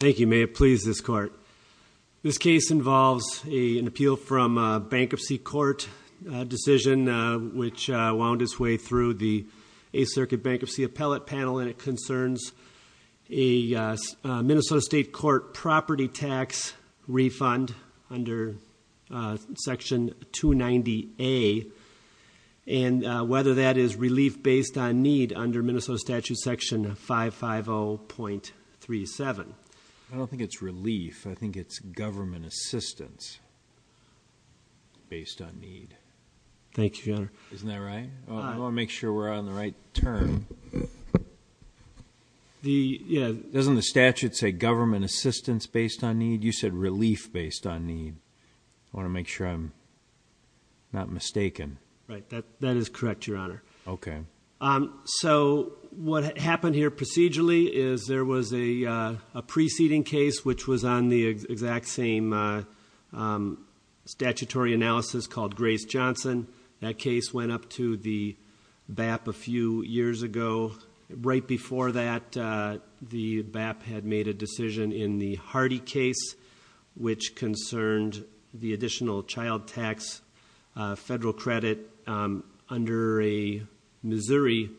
Thank you. May it please this court. This case involves an appeal from a bankruptcy court decision which wound its way through the 8th Circuit Bankruptcy Appellate Panel and it concerns a Minnesota State Court property tax refund under Section 290A and whether that is relief based on need under Minnesota statute section 550.37. I don't think it's relief. I think it's government assistance based on need. Thank you, your honor. Isn't that right? I want to make sure we're on the right turn. Doesn't the statute say government assistance based on need? You said relief based on need. I want to make sure I'm not wrong, your honor. Okay. So what happened here procedurally is there was a preceding case which was on the exact same statutory analysis called Grace Johnson. That case went up to the BAP a few years ago. Right before that, the BAP had made a decision in the Hardy case which concerned the additional child tax federal credit under a Missouri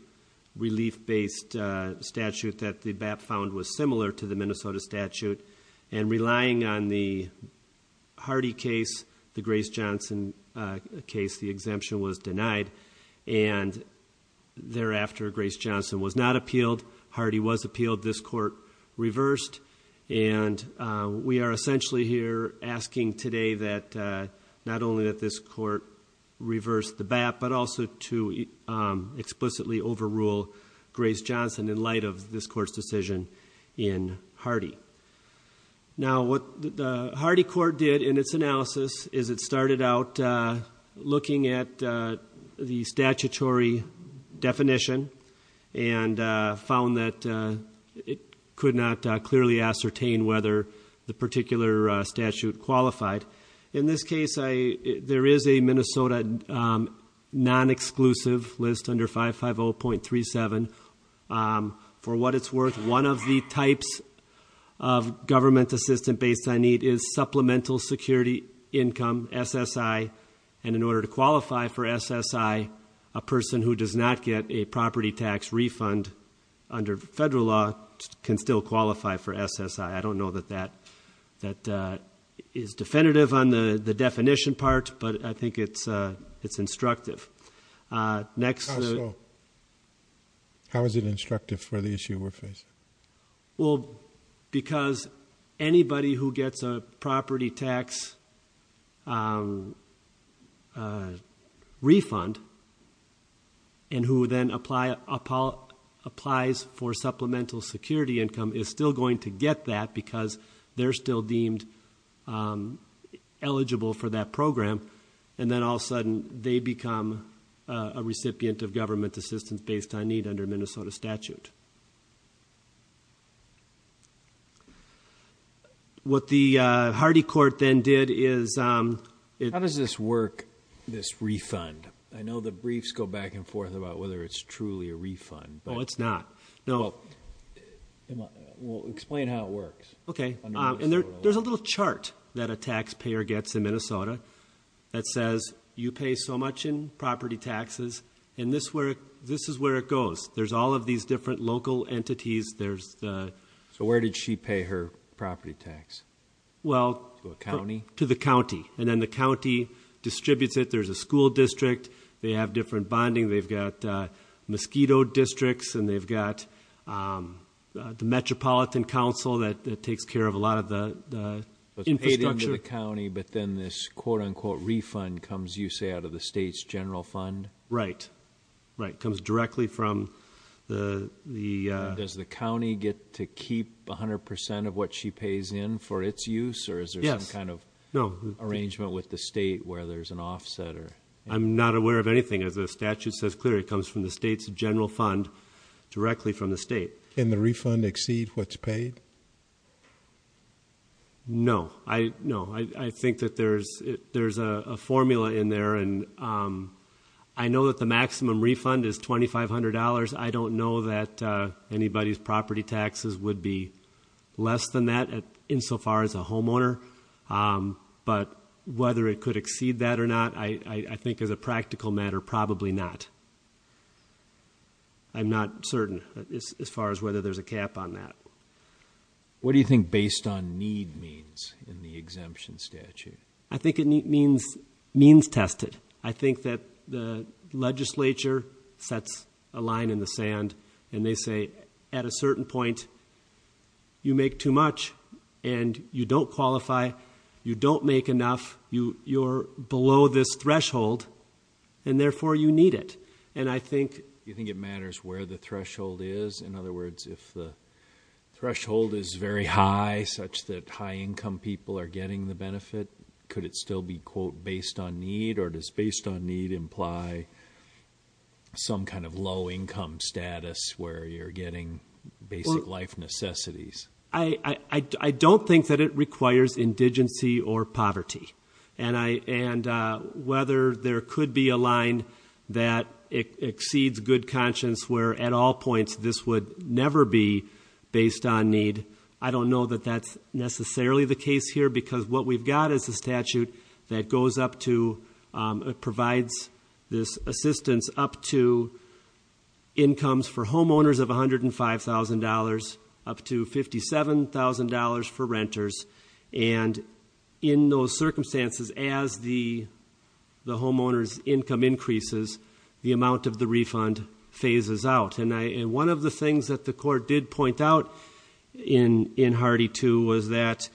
relief based statute that the BAP found was similar to the Minnesota statute and relying on the Hardy case, the Grace Johnson case, the exemption was denied and thereafter Grace Johnson was not appealed. Hardy was appealed. This court reversed and we are essentially here asking today that not only that this court reversed the BAP but also to explicitly overrule Grace Johnson in light of this court's decision in Hardy. Now what the Hardy court did in its analysis is it started out looking at the statutory definition and found that it could not clearly ascertain whether the particular statute qualified. In this case, there is a Minnesota non-exclusive list under 550.37. For what it's worth, one of the types of government assistance based on need is Supplemental Security Income, SSI, and in order to qualify for SSI, a person who does not get a property tax refund under federal law can still qualify for SSI. I don't know that that is definitive on the definition part but I think it's instructive. How so? How is it instructive for the issue we're facing? Because anybody who gets a property tax refund and who then applies for Supplemental Security Income is still going to get that because they're still deemed eligible for that program and then all of a sudden, they become a recipient of government assistance based on need under Minnesota statute. What the Hardy court then did is... How does this work, this refund? I know the briefs go back and forth about whether it's truly a refund but... Oh, it's not. Well, explain how it works under Minnesota law. There's a little chart that a taxpayer gets in Minnesota that says, you pay so much in property taxes and this is where it goes. There's all of these different local entities, there's the... So where did she pay her property tax? Well... To a county? To the county and then the county distributes it. There's a school district, they have different bonding, they've got mosquito districts and they've got the Metropolitan Council that takes care of a lot of the infrastructure. It's paid into the county but then this quote unquote refund comes, you say, out of the state's general fund? Right, right. It comes directly from the... Does the county get to keep 100% of what she pays in for its use or is there some kind of arrangement with the state where there's an offset or... I'm not aware of anything. As the statute says clearly, it comes from the state's general fund directly from the state. Can the refund exceed what's paid? No, I think that there's a formula in there and I know that the maximum refund is $2,500. I don't know that anybody's property taxes would be less than that insofar as a homeowner but whether it could exceed that or not, I think as a practical matter, probably not. I'm not certain as far as whether there's a cap on that. What do you think based on need means in the exemption statute? I think it means means tested. I think that the legislature sets a line in the sand and they say at a certain point, you make too much and you don't qualify, you don't make enough, you're below this threshold and therefore you need it. And I think... Do you think it matters where the threshold is? In other words, if the threshold is very high such that high income people are getting the benefit, could it still be quote based on need or does based on need imply some kind of low income status where you're getting basic life necessities? I don't think that it requires indigency or poverty. And whether there could be a line that exceeds good conscience where at all points this would never be based on need, I don't know that that's necessarily the case here because what we've got is a statute that goes up to, provides this assistance up to incomes for homeowners of $105,000 up to $57,000 for renters and in those circumstances as the homeowner's income increases, the amount of the refund phases out. One of the things that the court did point out in Hardy 2 was that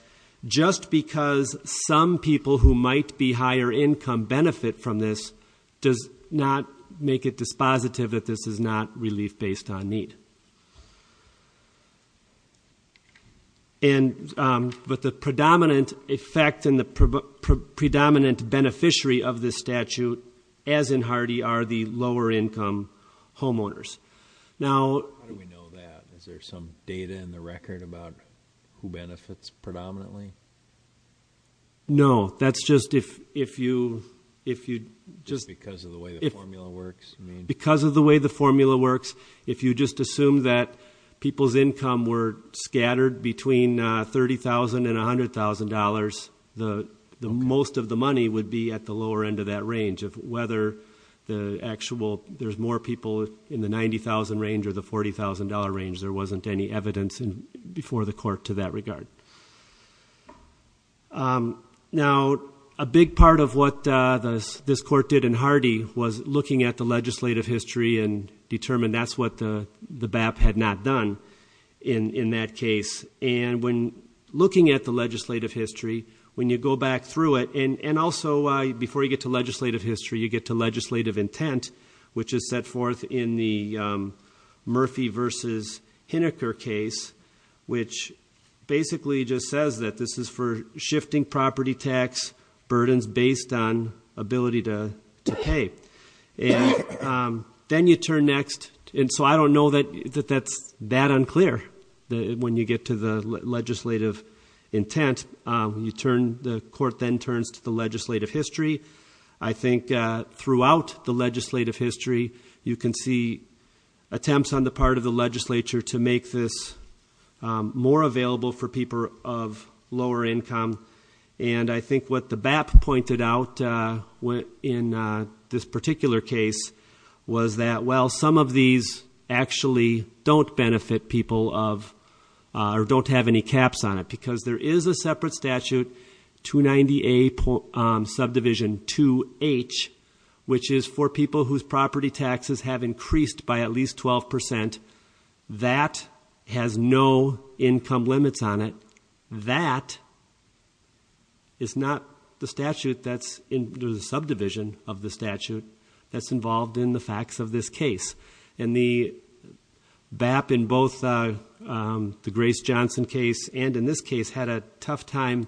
just because some people who might be higher income benefit from this does not make it dispositive that this is not relief based on need. But the predominant effect and the predominant beneficiary of this statute, as in Hardy, are the lower income homeowners. Now... How do we know that? Is there some data in the record about who benefits predominantly? No, that's just if you... If you just... Just because of the way the formula works? Because of the way the formula works, if you just assume that people's income were scattered between $30,000 and $100,000, most of the money would be at the lower end of that range of whether the actual, there's more people in the $90,000 range or the $40,000 range, there wasn't any evidence before the court to that regard. Now, a big part of what this court did in Hardy was looking at the legislative history and determined that's what the BAP had not done in that case. And when looking at the legislative history, when you go back through it, and also before you get to legislative history, you get to legislative intent, which is set forth in the Murphy v. Hineker case, which basically just says that this is for shifting property tax burdens based on ability to pay. Then you turn next, and so I don't know that that's that unclear when you get to the legislative intent. When you turn, the court then turns to the legislative history. I think throughout the legislative history, you can see attempts on the part of the legislature to make this more available for people of lower income. And I think what the BAP pointed out in this particular case was that while some of these actually don't benefit people of, or don't have any caps on it, because there is a separate statute, 290A subdivision 2H, which is for people whose property taxes have increased by at least 12%. That has no income limits on it. That is not the statute that's in the subdivision of the statute that's involved in the facts of this case. And the BAP in both the Grace Johnson case and in this case had a tough time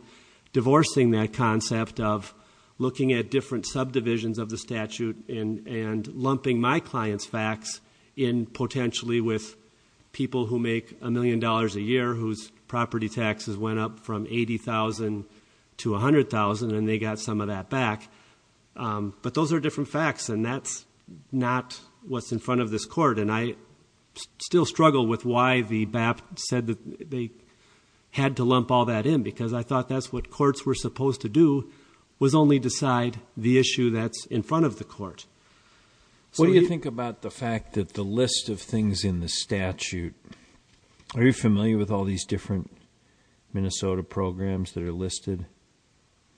divorcing that concept of looking at different subdivisions of the statute and lumping my client's facts in potentially with people who make a million dollars a year whose property taxes went up from $80,000 to $100,000, and they got some of that back. But those are different facts, and that's not what's in front of this court. And I still struggle with why the BAP said that they had to lump all that in, because I thought that's what courts were supposed to do, was only decide the issue that's in front of the court. So you think about the fact that the list of things in the statute, are you familiar with all these different Minnesota programs that are listed?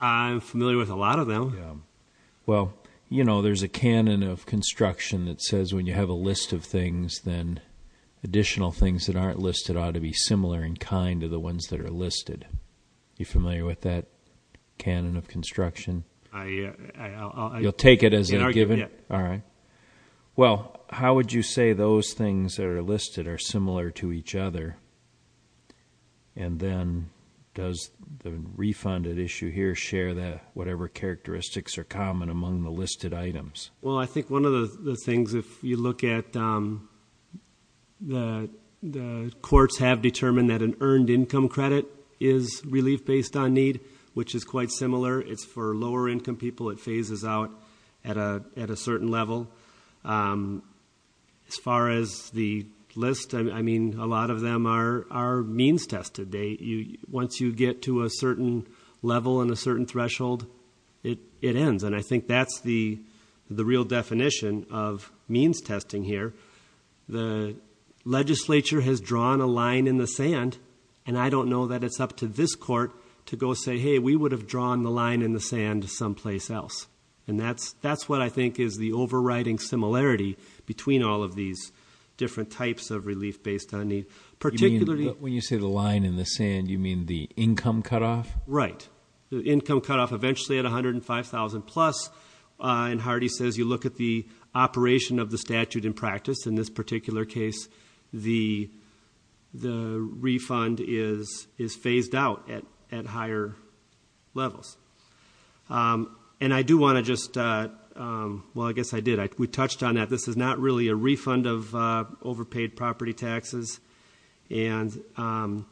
I'm familiar with a lot of them. Yeah. Well, you know, there's a canon of construction that says when you have a list of things, then additional things that aren't listed ought to be similar in kind to the ones that are listed. Are you familiar with that canon of construction? I'll... You'll take it as a given? All right. Well, how would you say those things that are listed are similar to each other? And then, does the refunded issue here share whatever characteristics are common among the listed items? Well, I think one of the things, if you look at the courts have determined that an earned income credit is relief based on need, which is quite similar. It's for lower income people, it phases out at a certain level. As far as the list, I mean, a lot of them are means tested. Once you get to a certain level and a certain threshold, it ends. And I think that's the real definition of means testing here. The legislature has drawn a line in the sand, and I don't know that it's up to this court to go say, hey, we would have drawn the line in the sand someplace else. And that's what I think is the overriding similarity between all of these different types of relief based on need. Particularly... When you say the line in the sand, you mean the income cutoff? Right. The income cutoff eventually at $105,000 plus. And Hardy says you look at the operation of the statute in practice. In this particular case, the refund is phased out at higher levels. And I do want to just... Well, I guess I did. We touched on that. This is not really a refund of overpaid property taxes. And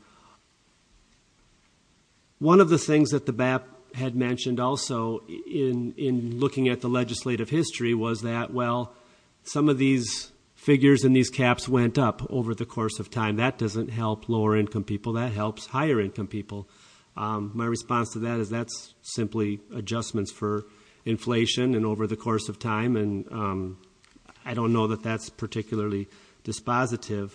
one of the things that the BAP had mentioned also in looking at the legislative history was that, well, some of these figures and these caps went up over the course of time. That doesn't help lower income people. That helps higher income people. My response to that is that's simply adjustments for inflation and over the course of time. And I don't know that that's particularly dispositive.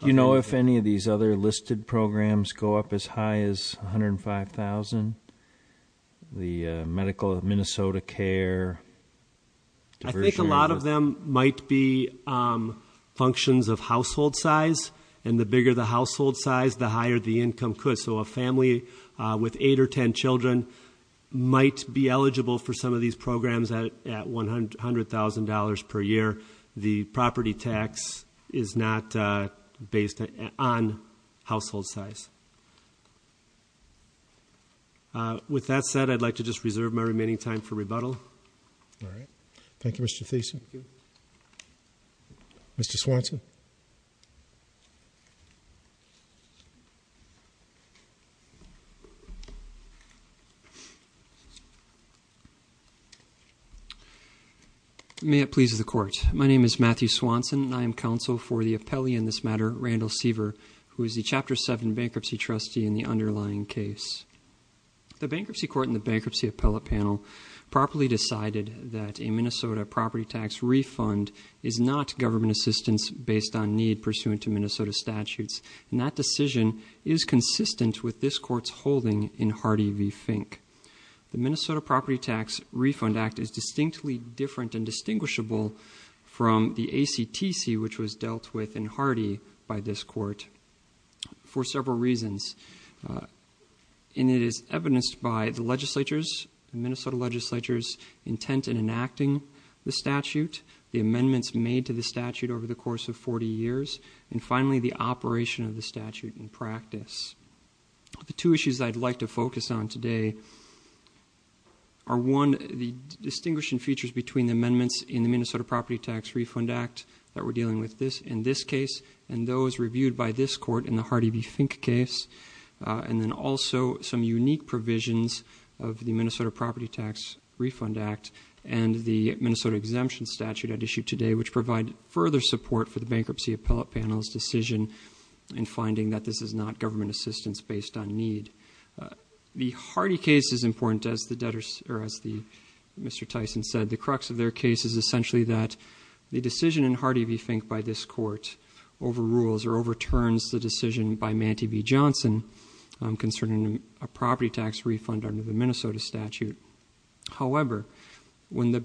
You know if any of these other listed programs go up as high as $105,000? The medical Minnesota Care... I think a lot of them might be functions of household size. And the bigger the household size, the higher the income could. So a family with 8 or 10 children might be eligible for some of these programs at $100,000 per year. The property tax is not based on household size. With that said, I'd like to just reserve my remaining time for rebuttal. All right. Thank you, Mr. Thiessen. Thank you. Mr. Swanson. May it please the court. My name is Matthew Swanson, and I am counsel for the appellee in this matter, Randall Seaver, who is the Chapter 7 bankruptcy trustee in the underlying case. The Bankruptcy Court and the Bankruptcy Appellate Panel properly decided that a Minnesota property tax refund is not government assistance based on need pursuant to Minnesota statutes. And that decision is consistent with this court's holding in Hardy v. Fink. The Minnesota Property Tax Refund Act is distinctly different and distinguishable from the ACTC, which was dealt with in Hardy by this court for several reasons. And it is evidenced by the legislature's, the Minnesota legislature's intent in enacting the statute, the amendments made to the statute over the course of 40 years, and finally the operation of the statute in practice. The two issues I'd like to focus on today are one, the distinguishing features between the amendments in the Minnesota Property Tax Refund Act that we're dealing with in this case, and those reviewed by this court in the Hardy v. Fink case. And then also some unique provisions of the Minnesota Property Tax Refund Act and the Minnesota Exemption Statute at issue today which provide further support for the Bankruptcy Appellate Panel's decision in finding that this is not government assistance based on need. The Hardy case is important as the debtors, or as Mr. Tyson said. The crux of their case is essentially that the decision in Hardy v. Fink by this court overrules or overturns the decision by Mantee v. Johnson concerning a property tax refund under the Minnesota statute. However, when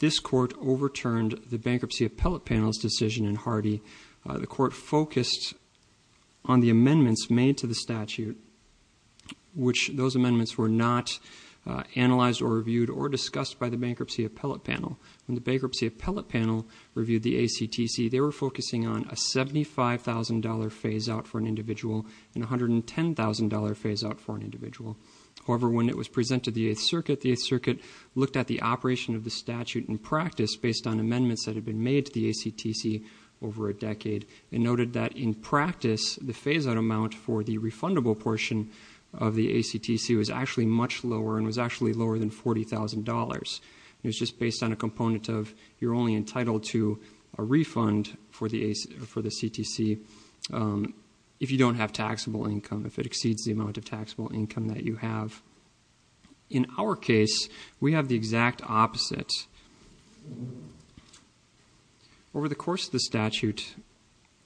this court overturned the Bankruptcy Appellate Panel's decision in Hardy, the court focused on the amendments made to the statute, which those amendments were not analyzed or reviewed or discussed by the Bankruptcy Appellate Panel. When the Bankruptcy Appellate Panel reviewed the ACTC, they were focusing on a $75,000 phase out for an individual and a $110,000 phase out for an individual. However, when it was presented to the Eighth Circuit, the Eighth Circuit looked at the operation of the statute in practice based on amendments that had been made to the ACTC over a decade. They noted that in practice, the phase out amount for the refundable portion of the ACTC was actually much lower and was actually lower than $40,000. It was just based on a component of you're only entitled to a refund for the CTC if you don't have taxable income, if it exceeds the amount of taxable income that you have. In our case, we have the exact opposite. Over the course of the statute,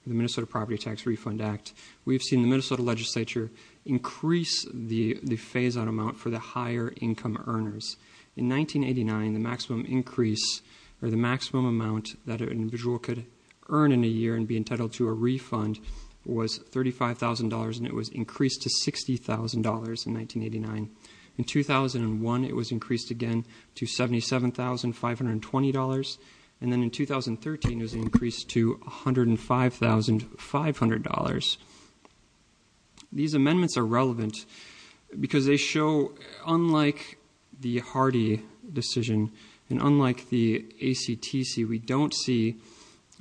the Minnesota Property Tax Refund Act, we've seen the Minnesota legislature increase the phase out amount for the higher income earners. In 1989, the maximum increase or the maximum amount that an individual could earn in a year and be entitled to a refund was $35,000 and it was increased to $60,000 in 1989. In 2001, it was increased again to $77,520. And then in 2013, it was increased to $105,500. These amendments are relevant because they show, unlike the Hardy decision and unlike the ACTC, we don't see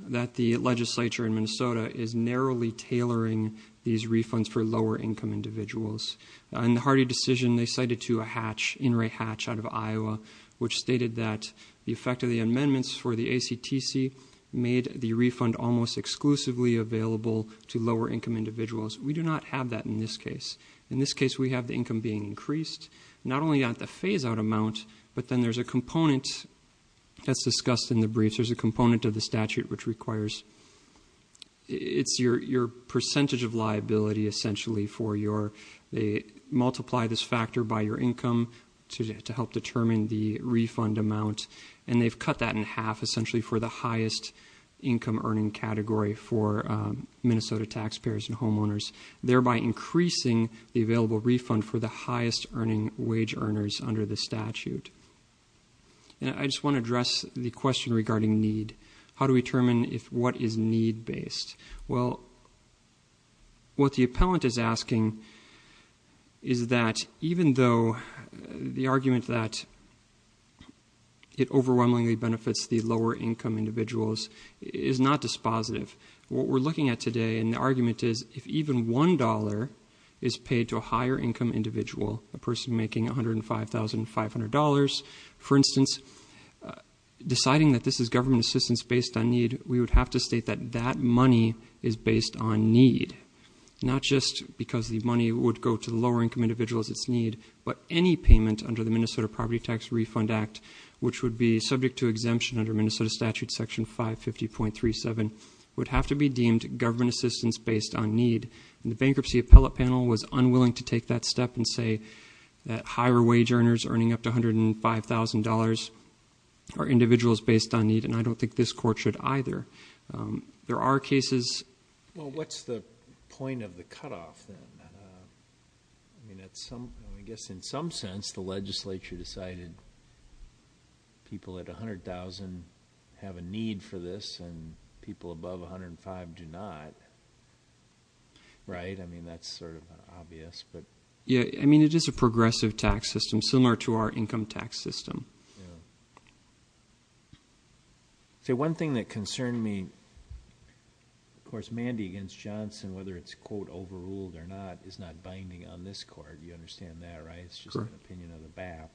that the legislature in Minnesota is narrowly tailoring these refunds for lower income individuals. In the Hardy decision, they cited to a hatch, in re hatch out of Iowa, which stated that the effect of the amendments for the ACTC made the refund almost exclusively available to lower income individuals. We do not have that in this case. In this case, we have the income being increased, not only at the phase out amount, but then there's a component that's discussed in the briefs, there's a component of the statute which requires, It's your percentage of liability, essentially, for your, they multiply this factor by your income to help determine the refund amount. And they've cut that in half, essentially, for the highest income earning category for Minnesota taxpayers and homeowners. Thereby increasing the available refund for the highest earning wage earners under the statute. And I just want to address the question regarding need. How do we determine if what is need based? Well, what the appellant is asking is that even though the argument that it overwhelmingly benefits the lower income individuals is not dispositive. What we're looking at today in the argument is, if even $1 is paid to a higher income individual, a person making $105,500, for instance, deciding that this is government assistance based on need, we would have to state that that money is based on need. Not just because the money would go to the lower income individuals it's need, but any payment under the Minnesota Property Tax Refund Act, which would be subject to exemption under Minnesota statute section 550.37, would have to be deemed government assistance based on need. And the bankruptcy appellate panel was unwilling to take that step and say that higher wage earners earning up to $105,000 are individuals based on need. And I don't think this court should either. There are cases- Well, what's the point of the cutoff, then? I mean, I guess in some sense, the legislature decided people at 100,000 have a need for this, and people above 105 do not, right? I mean, that's sort of obvious, but- Yeah, I mean, it is a progressive tax system, similar to our income tax system. So one thing that concerned me, of course, Mandy against Johnson, whether it's quote overruled or not, is not binding on this court. You understand that, right? It's just an opinion of the BAP,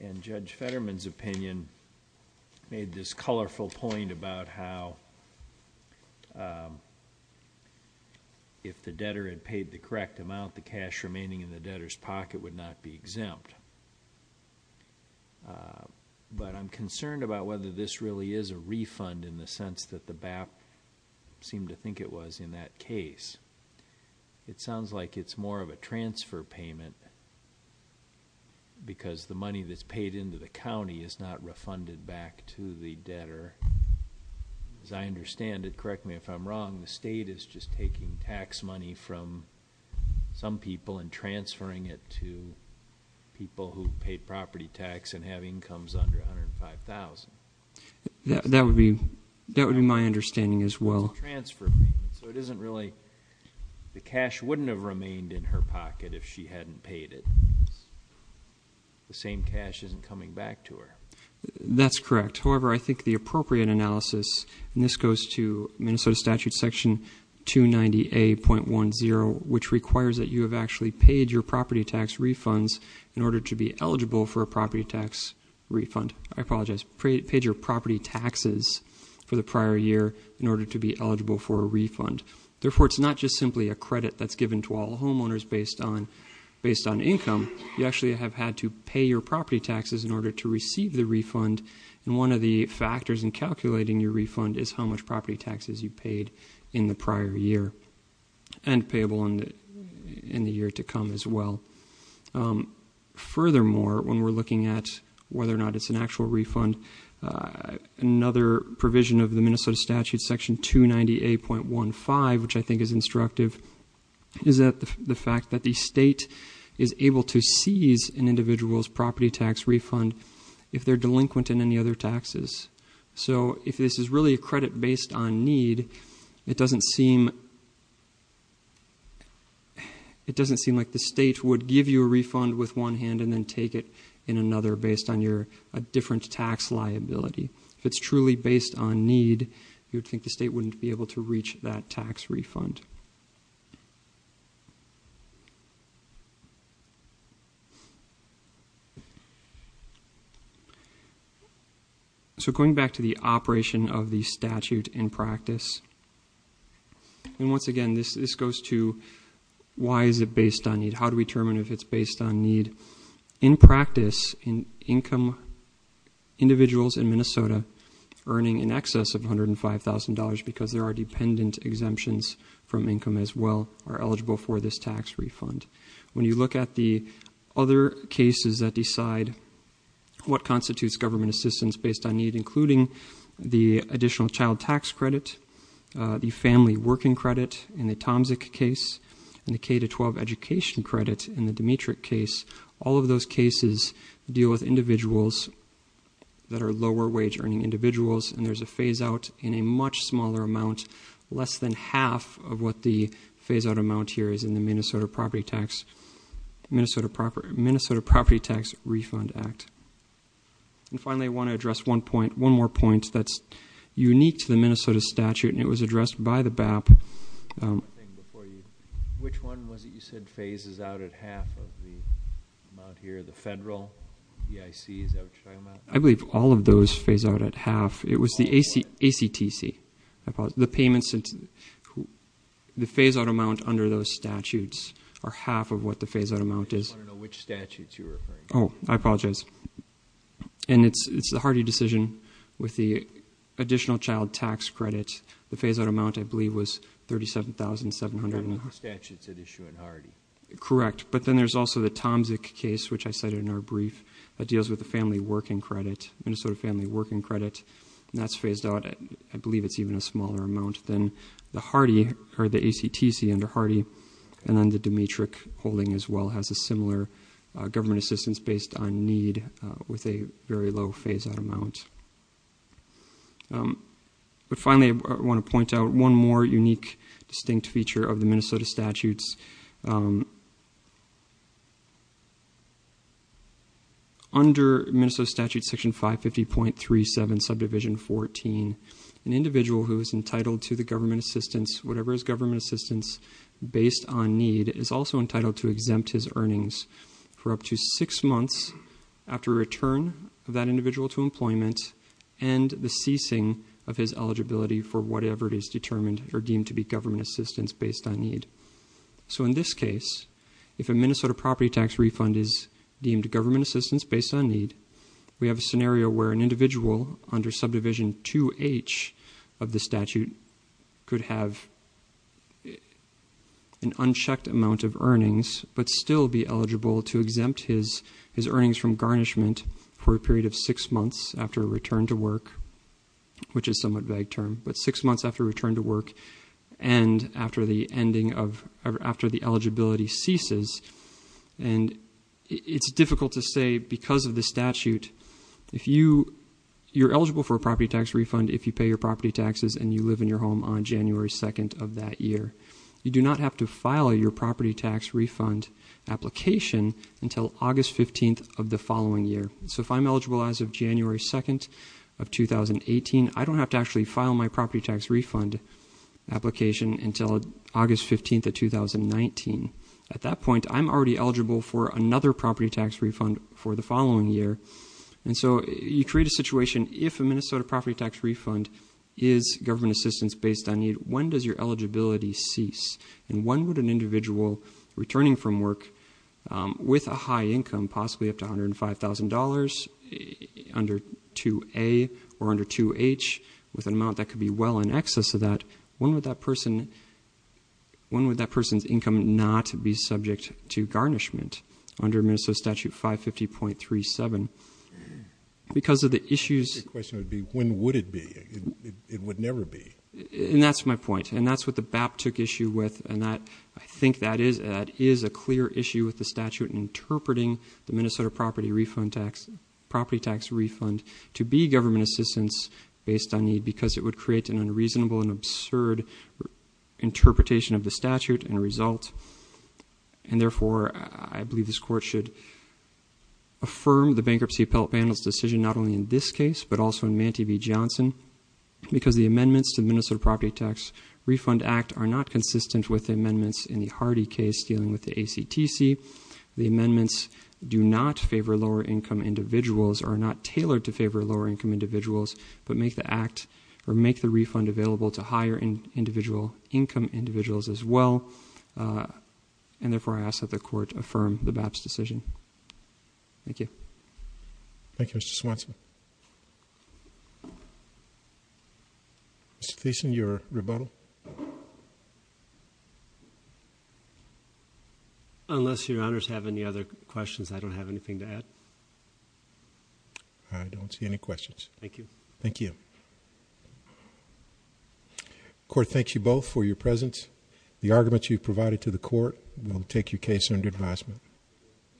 and Judge Fetterman's opinion made this colorful point about how if the debtor had paid the correct amount, the cash remaining in the debtor's pocket would not be exempt. But I'm concerned about whether this really is a refund in the sense that the BAP seemed to think it was in that case. It sounds like it's more of a transfer payment, because the money that's paid into the county is not refunded back to the debtor. As I understand it, correct me if I'm wrong, the state is just taking tax money from some people and transferring it to people who paid property tax and have incomes under 105,000. That would be my understanding as well. It's a transfer payment, so it isn't really- The cash wouldn't have remained in her pocket if she hadn't paid it. The same cash isn't coming back to her. That's correct. However, I think the appropriate analysis, and this goes to Minnesota Statute Section 290A.10, which requires that you have actually paid your property tax refunds in order to be eligible for a property tax refund. I apologize, paid your property taxes for the prior year in order to be eligible for a refund. Therefore, it's not just simply a credit that's given to all homeowners based on income. You actually have had to pay your property taxes in order to receive the refund. And one of the factors in calculating your refund is how much property taxes you paid in the prior year. And payable in the year to come as well. Furthermore, when we're looking at whether or not it's an actual refund, another provision of the Minnesota Statute Section 298.15, which I think is instructive, is that the fact that the state is able to seize an individual's property tax refund if they're delinquent in any other taxes. So if this is really a credit based on need, it doesn't seem It doesn't seem like the state would give you a refund with one hand and then take it in another based on your different tax liability. If it's truly based on need, you would think the state wouldn't be able to reach that tax refund. So going back to the operation of the statute in practice. And once again, this goes to, why is it based on need? How do we determine if it's based on need? In practice, in income individuals in Minnesota, earning in excess of $105,000 because there are dependent exemptions from income as well, are eligible for this tax refund. When you look at the other cases that decide what constitutes government assistance based on need, including the additional child tax credit, the family working credit in the Tomzik case, and the K to 12 education credit in the Demetric case, all of those cases deal with individuals that are lower wage earning individuals and there's a phase out in a much smaller amount, less than half of what the phase out amount here is in the Minnesota Property Tax Refund Act. And finally, I want to address one more point that's unique to the Minnesota statute, and it was addressed by the BAP. Which one was it you said phases out at half of the amount here, the federal EICs, is that what you're talking about? I believe all of those phase out at half. It was the ACTC, the payments, the phase out amount under those statutes are half of what the phase out amount is. I just want to know which statutes you're referring to. I apologize. And it's the Hardy decision with the additional child tax credit. The phase out amount, I believe, was $37,700. That's not the statutes that issue at Hardy. Correct. But then there's also the Tomzik case, which I cited in our brief, that deals with the family working credit, Minnesota family working credit. And that's phased out, I believe it's even a smaller amount than the Hardy, or the ACTC under Hardy. And then the Demetric holding as well has a similar government assistance based on need with a very low phase out amount. But finally, I want to point out one more unique, distinct feature of the Minnesota statutes. Under Minnesota statute section 550.37 subdivision 14, an individual who is entitled to the government assistance, whatever his government assistance based on need, is also entitled to exempt his earnings for up to six months after return of that individual to employment and the ceasing of his eligibility for whatever it is determined or deemed to be government assistance based on need. So in this case, if a Minnesota property tax refund is deemed government assistance based on need, we have a scenario where an individual under subdivision 2H of the statute could have an unchecked amount of earnings, but still be eligible to exempt his earnings from garnishment for a period of six months after return to work, which is somewhat vague term. But six months after return to work and after the ending of, after the eligibility ceases. And it's difficult to say because of the statute, if you, you're eligible for a property tax refund, if you pay your property taxes and you live in your home on January 2nd of that year, you do not have to file your property tax refund application until August 15th of the following year. So if I'm eligible as of January 2nd of 2018, I don't have to actually file my property tax refund application until August 15th of 2019. At that point, I'm already eligible for another property tax refund for the following year. And so you create a situation if a Minnesota property tax refund is government assistance based on need, when does your eligibility cease and when would an individual returning from work with a high income, possibly up to $105,000 under 2A or under 2H with an amount that could be well in excess of that, when would that person, when would that person's income not be subject to garnishment under Minnesota Statute 550.37? Because of the issues... The question would be, when would it be? It would never be. And that's my point. And that's what the BAP took issue with. And that, I think that is, that is a clear issue with the statute in interpreting the Minnesota property refund tax, property tax refund to be government assistance based on need because it would create an unreasonable and absurd interpretation of the statute and result. And therefore, I believe this court should affirm the Bankruptcy Appellate Panel's decision, not only in this case, but also in Mantee v. Johnson, because the amendments to the Minnesota Property Tax Refund Act are not consistent with the amendments in the Hardy case, dealing with the ACTC. The amendments do not favor lower income individuals, are not tailored to favor lower income individuals, but make the act or make the refund available to higher individual income individuals as well. And therefore, I ask that the court affirm the BAP's decision. Thank you. Thank you, Mr. Swanson. Mr. Thiessen, your rebuttal? Unless your honors have any other questions, I don't have anything to add. I don't see any questions. Thank you. Thank you. The court thanks you both for your presence. The arguments you've provided to the court will take your case under advisement.